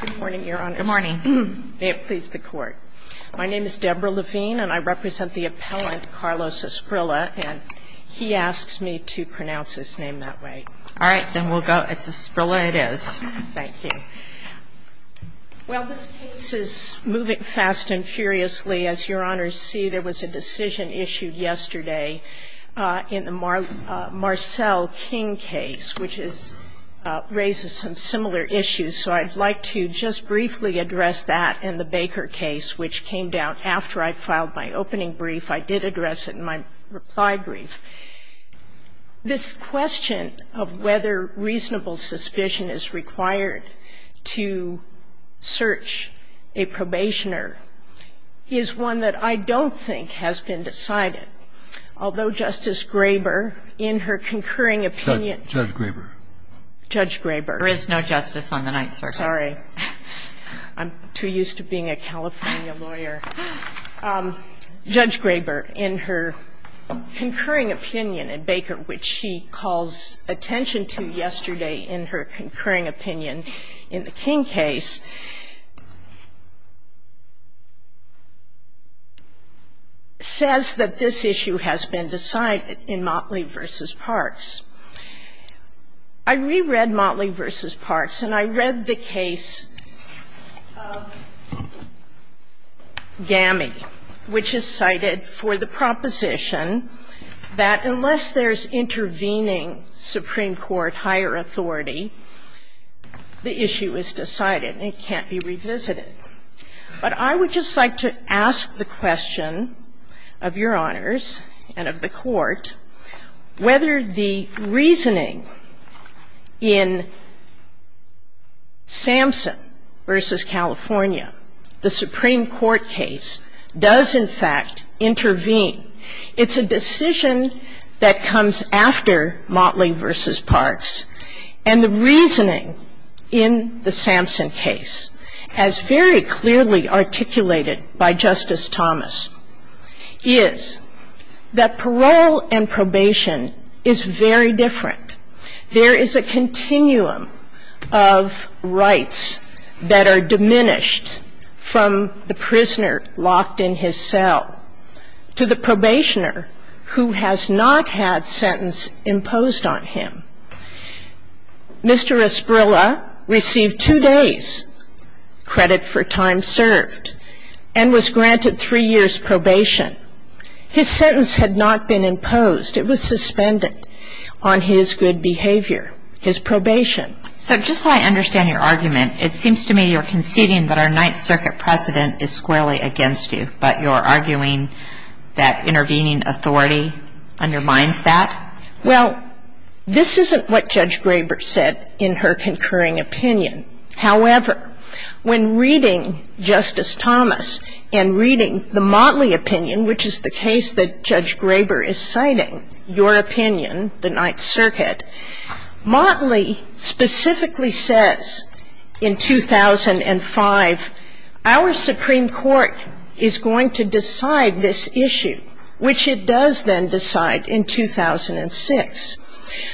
Good morning, Your Honors. May it please the Court. My name is Debra Levine, and I represent the appellant, Carlos Asprilla, and he asks me to pronounce his name that way. All right. Then we'll go. It's Asprilla it is. Thank you. Well, this case is moving fast and furiously. As Your Honors see, there was a decision issued yesterday in the Marcelle King case, which is raises some similar issues, so I'd like to just briefly address that and the Baker case, which came down after I filed my opening brief. I did address it in my reply brief. This question of whether reasonable suspicion is required to search a probationer is one that I don't think has been decided, although Justice Graber, in her concurring opinion. Judge Graber. Judge Graber. There is no justice on the Ninth Circuit. Sorry. I'm too used to being a California lawyer. Judge Graber, in her concurring opinion in Baker, which she calls attention to yesterday in her concurring opinion in the King case, says that this issue has been decided in Motley v. Parks. I reread Motley v. Parks and I read the case of GAMI, which is cited for the proposition that unless there's intervening Supreme Court higher authority, the issue is decided and it can't be revisited. But I would just like to ask the question of Your Honors and of the Court whether the reasoning in Sampson v. California, the Supreme Court case, does in fact intervene. It's a decision that comes after Motley v. Parks, and the reasoning in the Sampson case, as very clearly articulated by Justice Thomas, is that parole and probation is very different. There is a continuum of rights that are diminished from the prisoner locked in his cell to the probationer who has not had sentence imposed on him. Mr. Esparilla received two days' credit for time served and was granted three years' probation. His sentence had not been imposed. It was suspended on his good behavior, his probation. So just so I understand your argument, it seems to me you're conceding that our Ninth Circuit precedent is squarely against you, but you're arguing that intervening authority undermines that? Well, this isn't what Judge Graber said in her concurring opinion. However, when reading Justice Thomas and reading the Motley opinion, which is the case that Judge Graber is citing, your opinion, the Ninth Circuit, Motley specifically says in 2005, our Supreme Court is going to decide this issue, which it does then decide in 2006.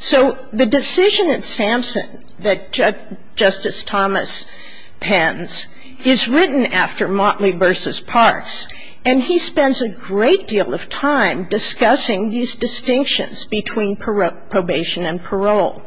So the decision at Sampson that Justice Thomas pens is written after Motley v. Parse, and he spends a great deal of time discussing these distinctions between probation and parole.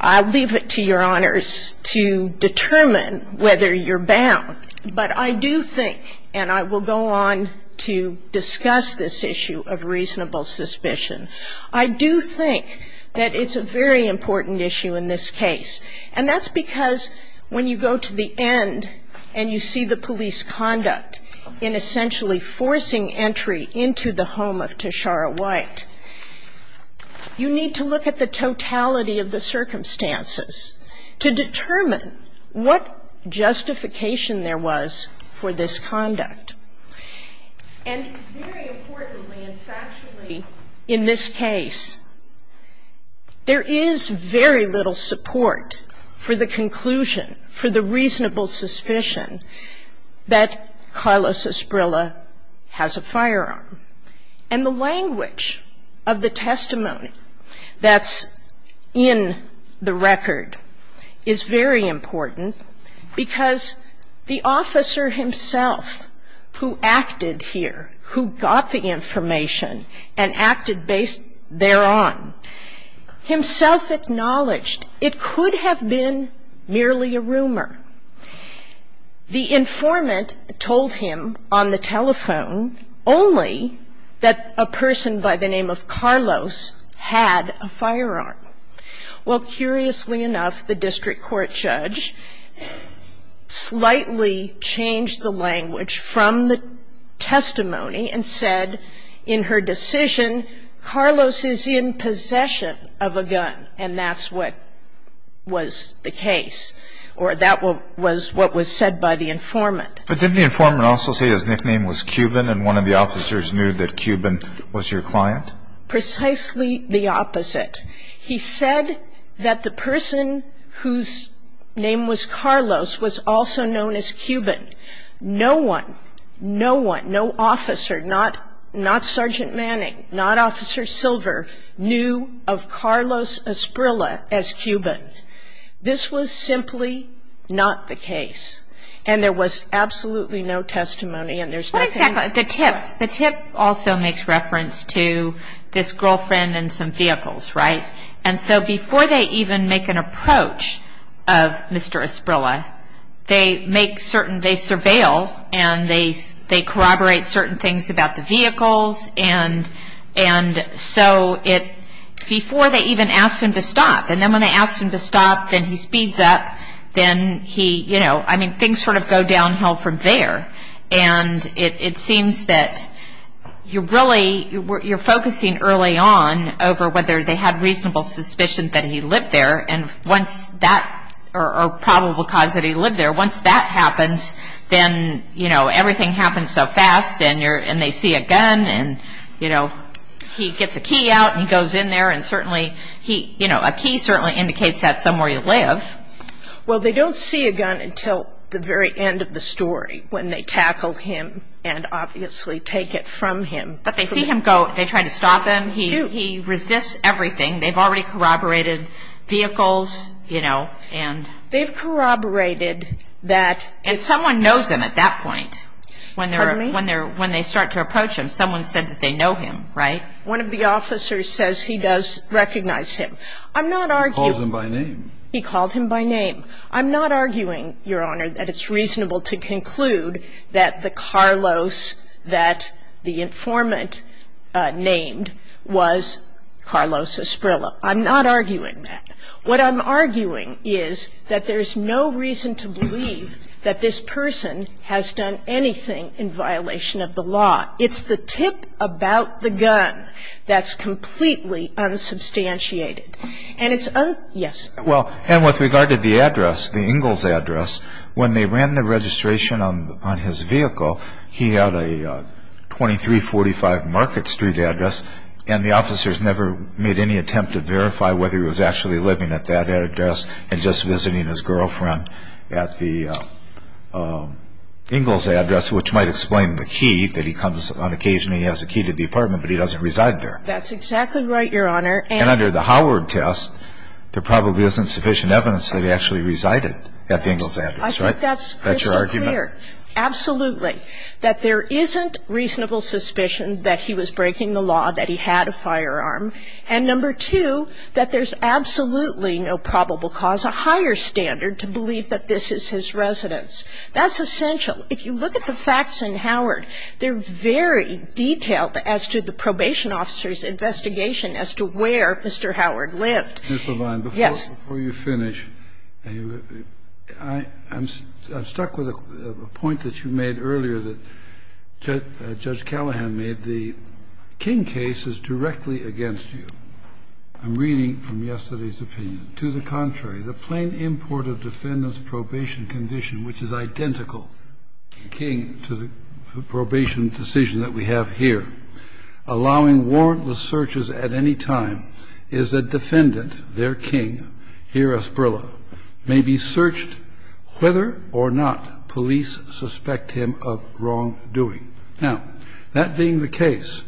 I'll leave it to Your Honors to determine whether you're bound, but I do think, and I will go on to discuss this issue of reasonable suspicion, I do think that it's a very important issue in this case. And that's because when you go to the end and you see the police conduct in essentially forcing entry into the home of Tashara White, you need to look at the totality of the circumstances to determine what justification there was for this conduct. And very importantly and factually in this case, there is very little support for the conclusion, for the reasonable suspicion that Carlos Esprilla has a firearm. And the language of the testimony that's in the record is very important because the officer himself who acted here, who got the information and acted based thereon, himself acknowledged it could have been merely a rumor. The informant told him on the telephone only that a person by the name of Carlos had a firearm. Well, curiously enough, the district court judge slightly changed the language from the testimony and said in her decision, Carlos is in possession of a gun, and that's what was the case. Or that was what was said by the informant. But didn't the informant also say his nickname was Cuban and one of the officers knew that Cuban was your client? Precisely the opposite. He said that the person whose name was Carlos was also known as Cuban. No one, no one, no officer, not Sergeant Manning, not Officer Manning. The tip also makes reference to this girlfriend and some vehicles, right? And so before they even make an approach of Mr. Esprilla, they make certain, they surveil and they corroborate certain things about the vehicles, and so it, before they even ask him to stop, and he, you know, I mean, things sort of go downhill from there, and it seems that you're really, you're focusing early on over whether they had reasonable suspicion that he lived there, and once that, or probable cause that he lived there, once that happens, then, you know, everything happens so fast, and you're, and they see a gun, and, you know, he gets a key out, and he goes in there, and certainly, he, you know, a key certainly indicates that somewhere you live. Well, they don't see a gun until the very end of the story when they tackle him and obviously take it from him. But they see him go, they try to stop him. He resists everything. They've already corroborated vehicles, you know, and... They've corroborated that... And someone knows him at that point. Pardon me? When they're, when they start to approach him, someone said that they know him, right? One of the officers says he does recognize him. I'm not arguing... He called him by name. I'm not arguing, Your Honor, that it's reasonable to conclude that the Carlos that the informant named was Carlos Esprillo. I'm not arguing that. What I'm arguing is that there's no reason to believe that this person has done anything in violation of the law. It's the tip about the gun that's completely unsubstantiated. And it's... Yes. Well, and with regard to the address, the Ingalls address, when they ran the registration on his vehicle, he had a 2345 Market Street address, and the officers never made any attempt to verify whether he was actually living at that address and just visiting his girlfriend at the Ingalls address, which might explain the key that he comes... On occasion, he has a key to the apartment, but he doesn't reside there. That's exactly right, Your Honor. And under the Howard test, there probably isn't sufficient evidence that he actually resided at the Ingalls address, right? I think that's crystal clear. That's your argument? Absolutely. That there isn't reasonable suspicion that he was breaking the law, that he had a firearm. And number two, that there's absolutely no probable cause, a higher standard, to believe that this is his residence. That's essential. If you look at the facts in Howard, they're very detailed as to the probation officers' investigation as to where Mr. Howard lived. Ms. Levine. Yes. Before you finish, I'm stuck with a point that you made earlier that Judge Callahan made. The King case is directly against you. I'm reading from yesterday's opinion. To the contrary, the plain import of defendant's probation condition, which is identical, King to the probation decision that we have here, allowing warrantless searches at any time, is that defendant, their King, here Esparilla, may be searched whether or not police suspect him of wrongdoing. Now, that being the case,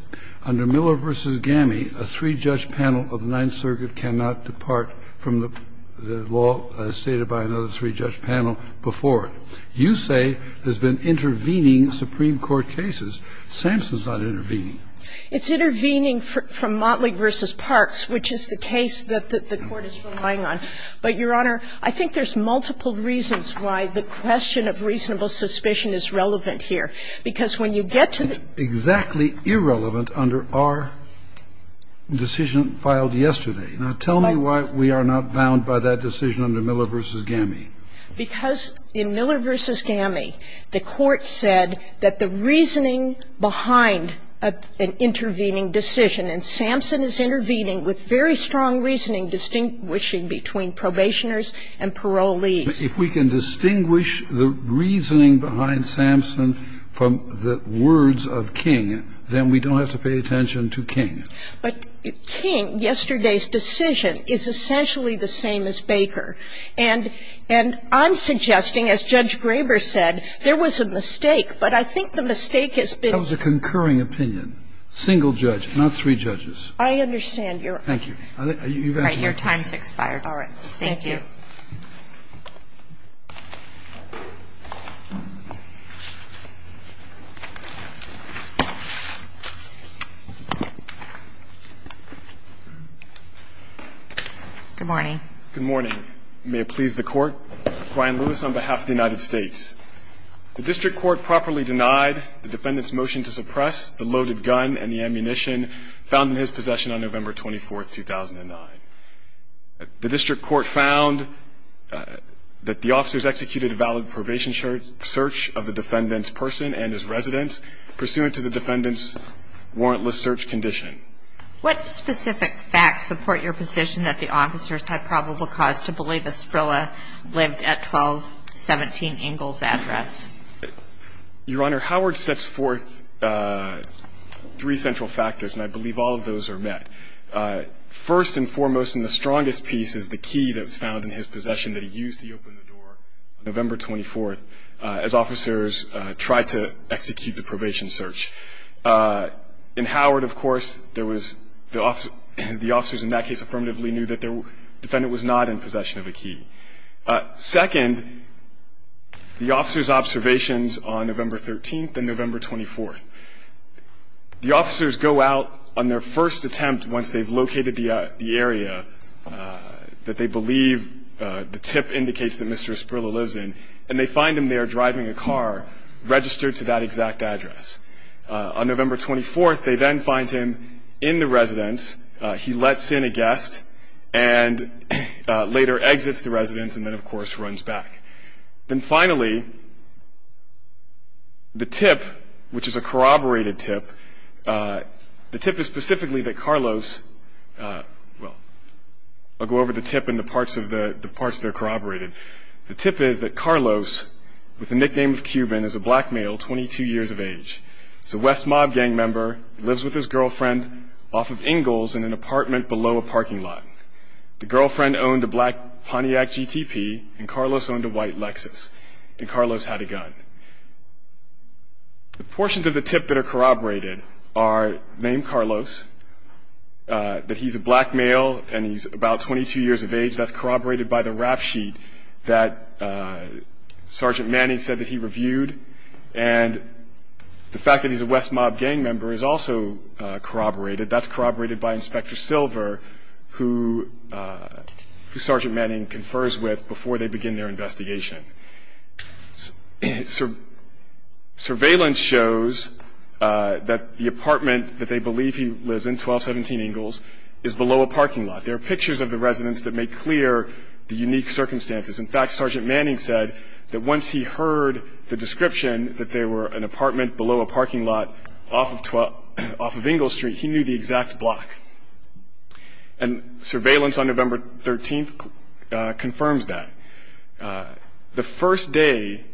under Miller v. Gammie, a three-judge panel of the Ninth Circuit cannot depart from the law stated by another three-judge panel before it. You say there's been intervening Supreme Court cases. Sampson's not intervening. It's intervening from Motley v. Parks, which is the case that the Court is relying on. But, Your Honor, I think there's multiple reasons why the question of reasonable suspicion is relevant here. Because when you get to the question of reasonable suspicion, it's exactly irrelevant under our decision filed yesterday. Now, tell me why we are not bound by that decision under Miller v. Gammie. Because in Miller v. Gammie, the Court said that the reasoning behind an intervening decision, and Sampson is intervening with very strong reasoning distinguishing between probationers and parolees. If we can distinguish the reasoning behind Sampson from the words of King, then we don't have to pay attention to King. But King, yesterday's decision, is essentially the same as Baker. And I'm suggesting, as Judge Graber said, there was a mistake. But I think the mistake has been the concurring opinion, single judge, not three judges. I understand, Your Honor. Thank you. Your time has expired. All right. Thank you. Good morning. Good morning. May it please the Court. Brian Lewis on behalf of the United States. The district court properly denied the defendant's motion to suppress the loaded gun and the ammunition found in his possession on November 24th, 2009. the ammunition found in his possession on November 24th, 2009. The evidence found that the officers executed a valid probation search of the defendant's person and his residence pursuant to the defendant's warrantless search condition. What specific facts support your position that the officers had probable cause to believe Esprilla lived at 1217 Ingalls' address? Your Honor, Howard sets forth three central factors, and I believe all of those are met. First and foremost, and the strongest piece, is the key that was found in his possession that he used to open the door on November 24th as officers tried to execute the probation search. In Howard, of course, the officers in that case affirmatively knew that the defendant was not in possession of a key. Second, the officers' observations on November 13th and November 24th. The officers go out on their first attempt once they've located the area that they believe the tip indicates that Mr. Esprilla lives in, and they find him there driving a car registered to that exact address. On November 24th, they then find him in the residence. He lets in a guest and later exits the residence and then, of course, runs back. Then finally, the tip, which is a corroborated tip, the tip is specifically that Carlos well, I'll go over the tip and the parts that are corroborated. The tip is that Carlos, with the nickname of Cuban, is a black male, 22 years of age. He's a West Mob gang member. He lives with his girlfriend off of Ingalls in an apartment below a parking lot. The girlfriend owned a black Pontiac GTP, and Carlos owned a white Lexus, and Carlos had a gun. The portions of the tip that are corroborated are named Carlos, that he's a black male, and he's about 22 years of age. That's corroborated by the rap sheet that Sergeant Manning said that he reviewed, and the fact that he's a West Mob gang member is also corroborated. That's corroborated by Inspector Silver, who Sergeant Manning confers with before they begin their investigation. Surveillance shows that the apartment that they believe he lives in, 1217 Ingalls, is below a parking lot. There are pictures of the residence that make clear the unique circumstances. In fact, Sergeant Manning said that once he heard the description that there were an apartment below a parking lot off of Ingalls Street, he knew the exact block. Surveillance on November 13th confirms that. The first day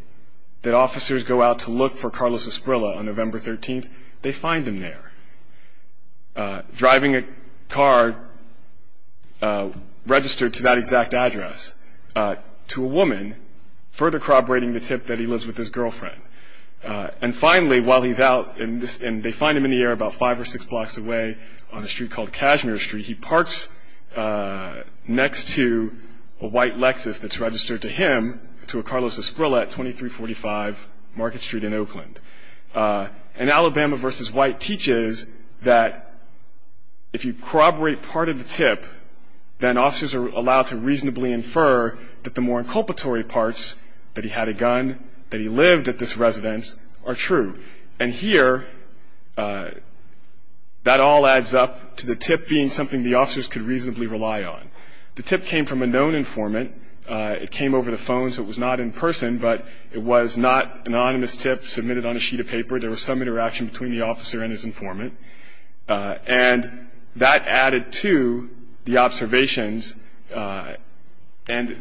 that officers go out to look for Carlos Esprilla on November 13th, they find him there, driving a car registered to that exact address to a woman, further corroborating the tip that he lives with his girlfriend. And finally, while he's out, and they find him in the air about five or six blocks away on a street called Cashmere Street, he parks next to a white Lexus that's registered to him, to a Carlos Esprilla at 2345 Market Street in Oakland. And Alabama v. White teaches that if you corroborate part of the tip, then officers are allowed to reasonably infer that the more inculpatory parts, that he had a gun, that he lived at this residence, are true. And here, that all adds up to the tip being something the officers could reasonably rely on. The tip came from a known informant. It came over the phone, so it was not in person, but it was not an anonymous tip submitted on a sheet of paper. There was some interaction between the officer and his informant. And that added to the observations, and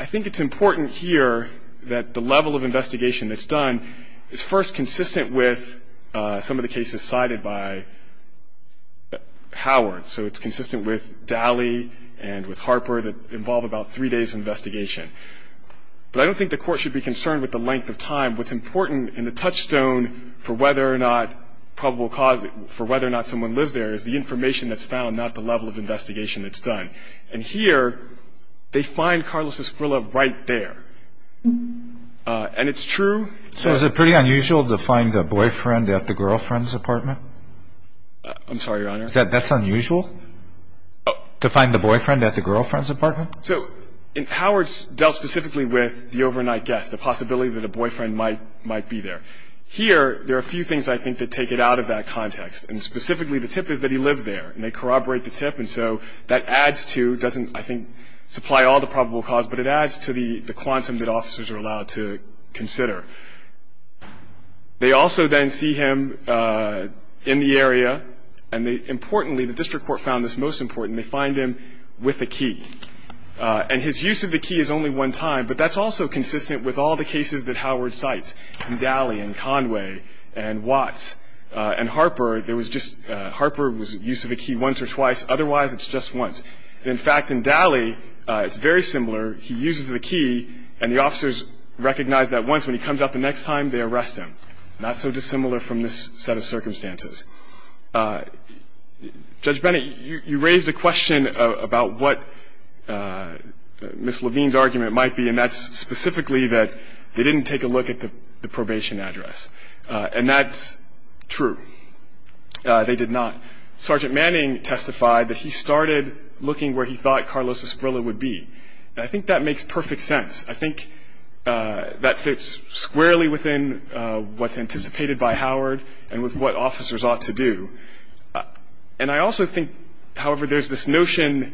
I think it's important here that the level of investigation that's done is first consistent with some of the cases cited by Howard. So it's consistent with Dally and with Harper that involve about three days of investigation. But I don't think the Court should be concerned with the length of time. What's important in the touchstone for whether or not probable cause, for whether or not someone lives there is the information that's found, not the level of investigation that's done. And here, they find Carlos Esprilla right there. And it's true. So is it pretty unusual to find a boyfriend at the girlfriend's apartment? I'm sorry, Your Honor. That's unusual, to find the boyfriend at the girlfriend's apartment? So Howard dealt specifically with the overnight guest, the possibility that a boyfriend might be there. Here, there are a few things I think that take it out of that context. And specifically, the tip is that he lived there, and they corroborate the tip. And so that adds to, doesn't I think supply all the probable cause, but it adds to the quantum that officers are allowed to consider. They also then see him in the area, and importantly, the district court found this most important. And they find him with a key. And his use of the key is only one time, but that's also consistent with all the cases that Howard cites, in Daly and Conway and Watts and Harper. There was just, Harper was used to the key once or twice. Otherwise, it's just once. In fact, in Daly, it's very similar. He uses the key, and the officers recognize that once. When he comes up the next time, they arrest him. Not so dissimilar from this set of circumstances. Judge Bennett, you raised a question about what Ms. Levine's argument might be, and that's specifically that they didn't take a look at the probation address. And that's true. They did not. Sergeant Manning testified that he started looking where he thought Carlos Esparilla would be. And I think that makes perfect sense. I think that fits squarely within what's anticipated by Howard and with what officers ought to do. And I also think, however, there's this notion,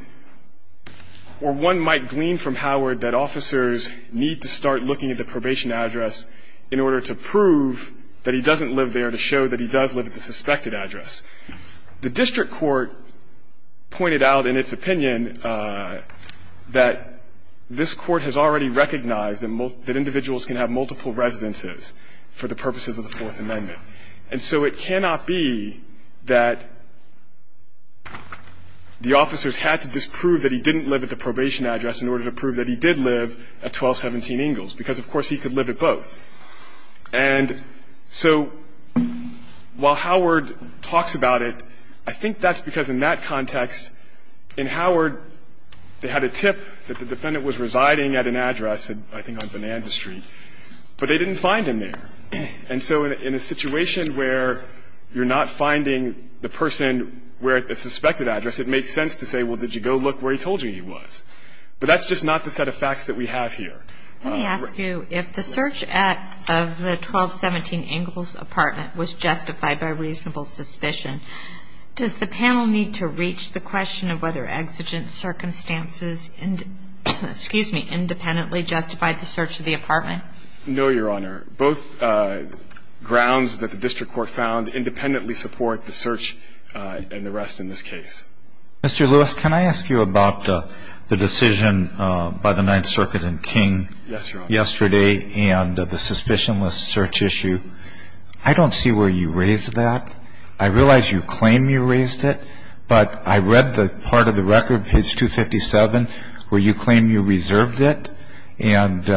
or one might glean from Howard, that officers need to start looking at the probation address in order to prove that he doesn't live there, to show that he does live at the suspected address. The district court pointed out in its opinion that this Court has already recognized that individuals can have multiple residences for the purposes of the Fourth Amendment. And so it cannot be that the officers had to disprove that he didn't live at the probation address in order to prove that he did live at 1217 Ingalls, because, of course, he could live at both. And so while Howard talks about it, I think that's because in that context, in Howard, they had a tip that the defendant was residing at an address, I think on Bonanza Street, but they didn't find him there. And so in a situation where you're not finding the person where the suspected address, it makes sense to say, well, did you go look where he told you he was? But that's just not the set of facts that we have here. Let me ask you, if the search of the 1217 Ingalls apartment was justified by reasonable suspicion, does the panel need to reach the question of whether exigent circumstances independently justified the search of the apartment? No, Your Honor. Both grounds that the district court found independently support the search and the rest in this case. Mr. Lewis, can I ask you about the decision by the Ninth Circuit in King yesterday and the suspicionless search issue? I don't see where you raised that. I realize you claim you raised it, but I read the part of the record, page 257, where you claim you reserved it, and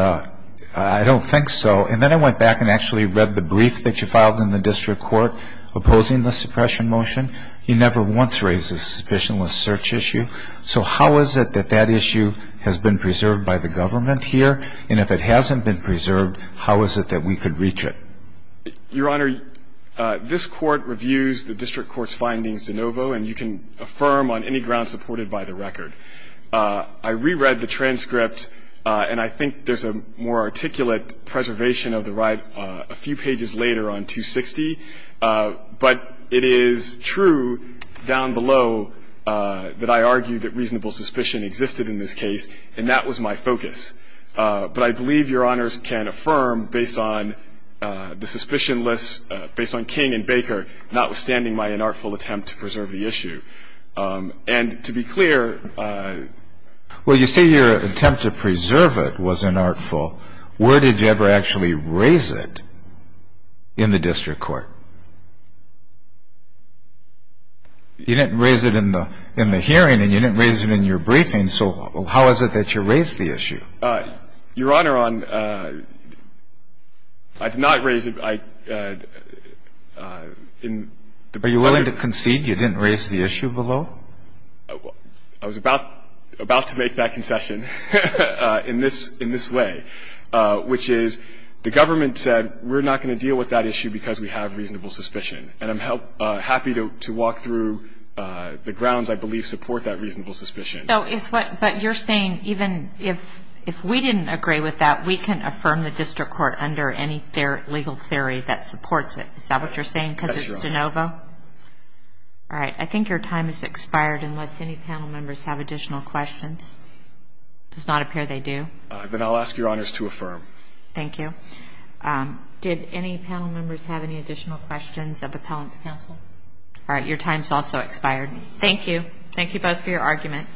I don't think so. And then I went back and actually read the brief that you filed in the district court opposing the suppression motion. You never once raised the suspicionless search issue. So how is it that that issue has been preserved by the government here? And if it hasn't been preserved, how is it that we could reach it? Your Honor, this court reviews the district court's findings de novo, and you can affirm on any ground supported by the record. I reread the transcript, and I think there's a more articulate preservation of the right a few pages later on 260. But it is true down below that I argue that reasonable suspicion existed in this case, and that was my focus. But I believe Your Honors can affirm based on the suspicionless, based on King and Baker, notwithstanding my inartful attempt to preserve the issue. And to be clear ---- Well, you say your attempt to preserve it was inartful. Where did you ever actually raise it in the district court? You didn't raise it in the hearing, and you didn't raise it in your briefing. So how is it that you raised the issue? Your Honor, I did not raise it in the briefing. Are you willing to concede you didn't raise the issue below? I was about to make that concession in this way. But I do believe that there is a reasonable suspicion in this case. And I'm happy to walk through the grounds I believe support that reasonable suspicion. So is what you're saying, even if we didn't agree with that, we can affirm the district court under any legal theory that supports it. Is that what you're saying because it's de novo? That's your Honor. All right. I think your time has expired unless any panel members have additional questions. Does not appear they do. Then I'll ask your Honors to affirm. Thank you. Did any panel members have any additional questions of the appellant's counsel? All right. Your time has also expired. Thank you. Thank you both for your argument.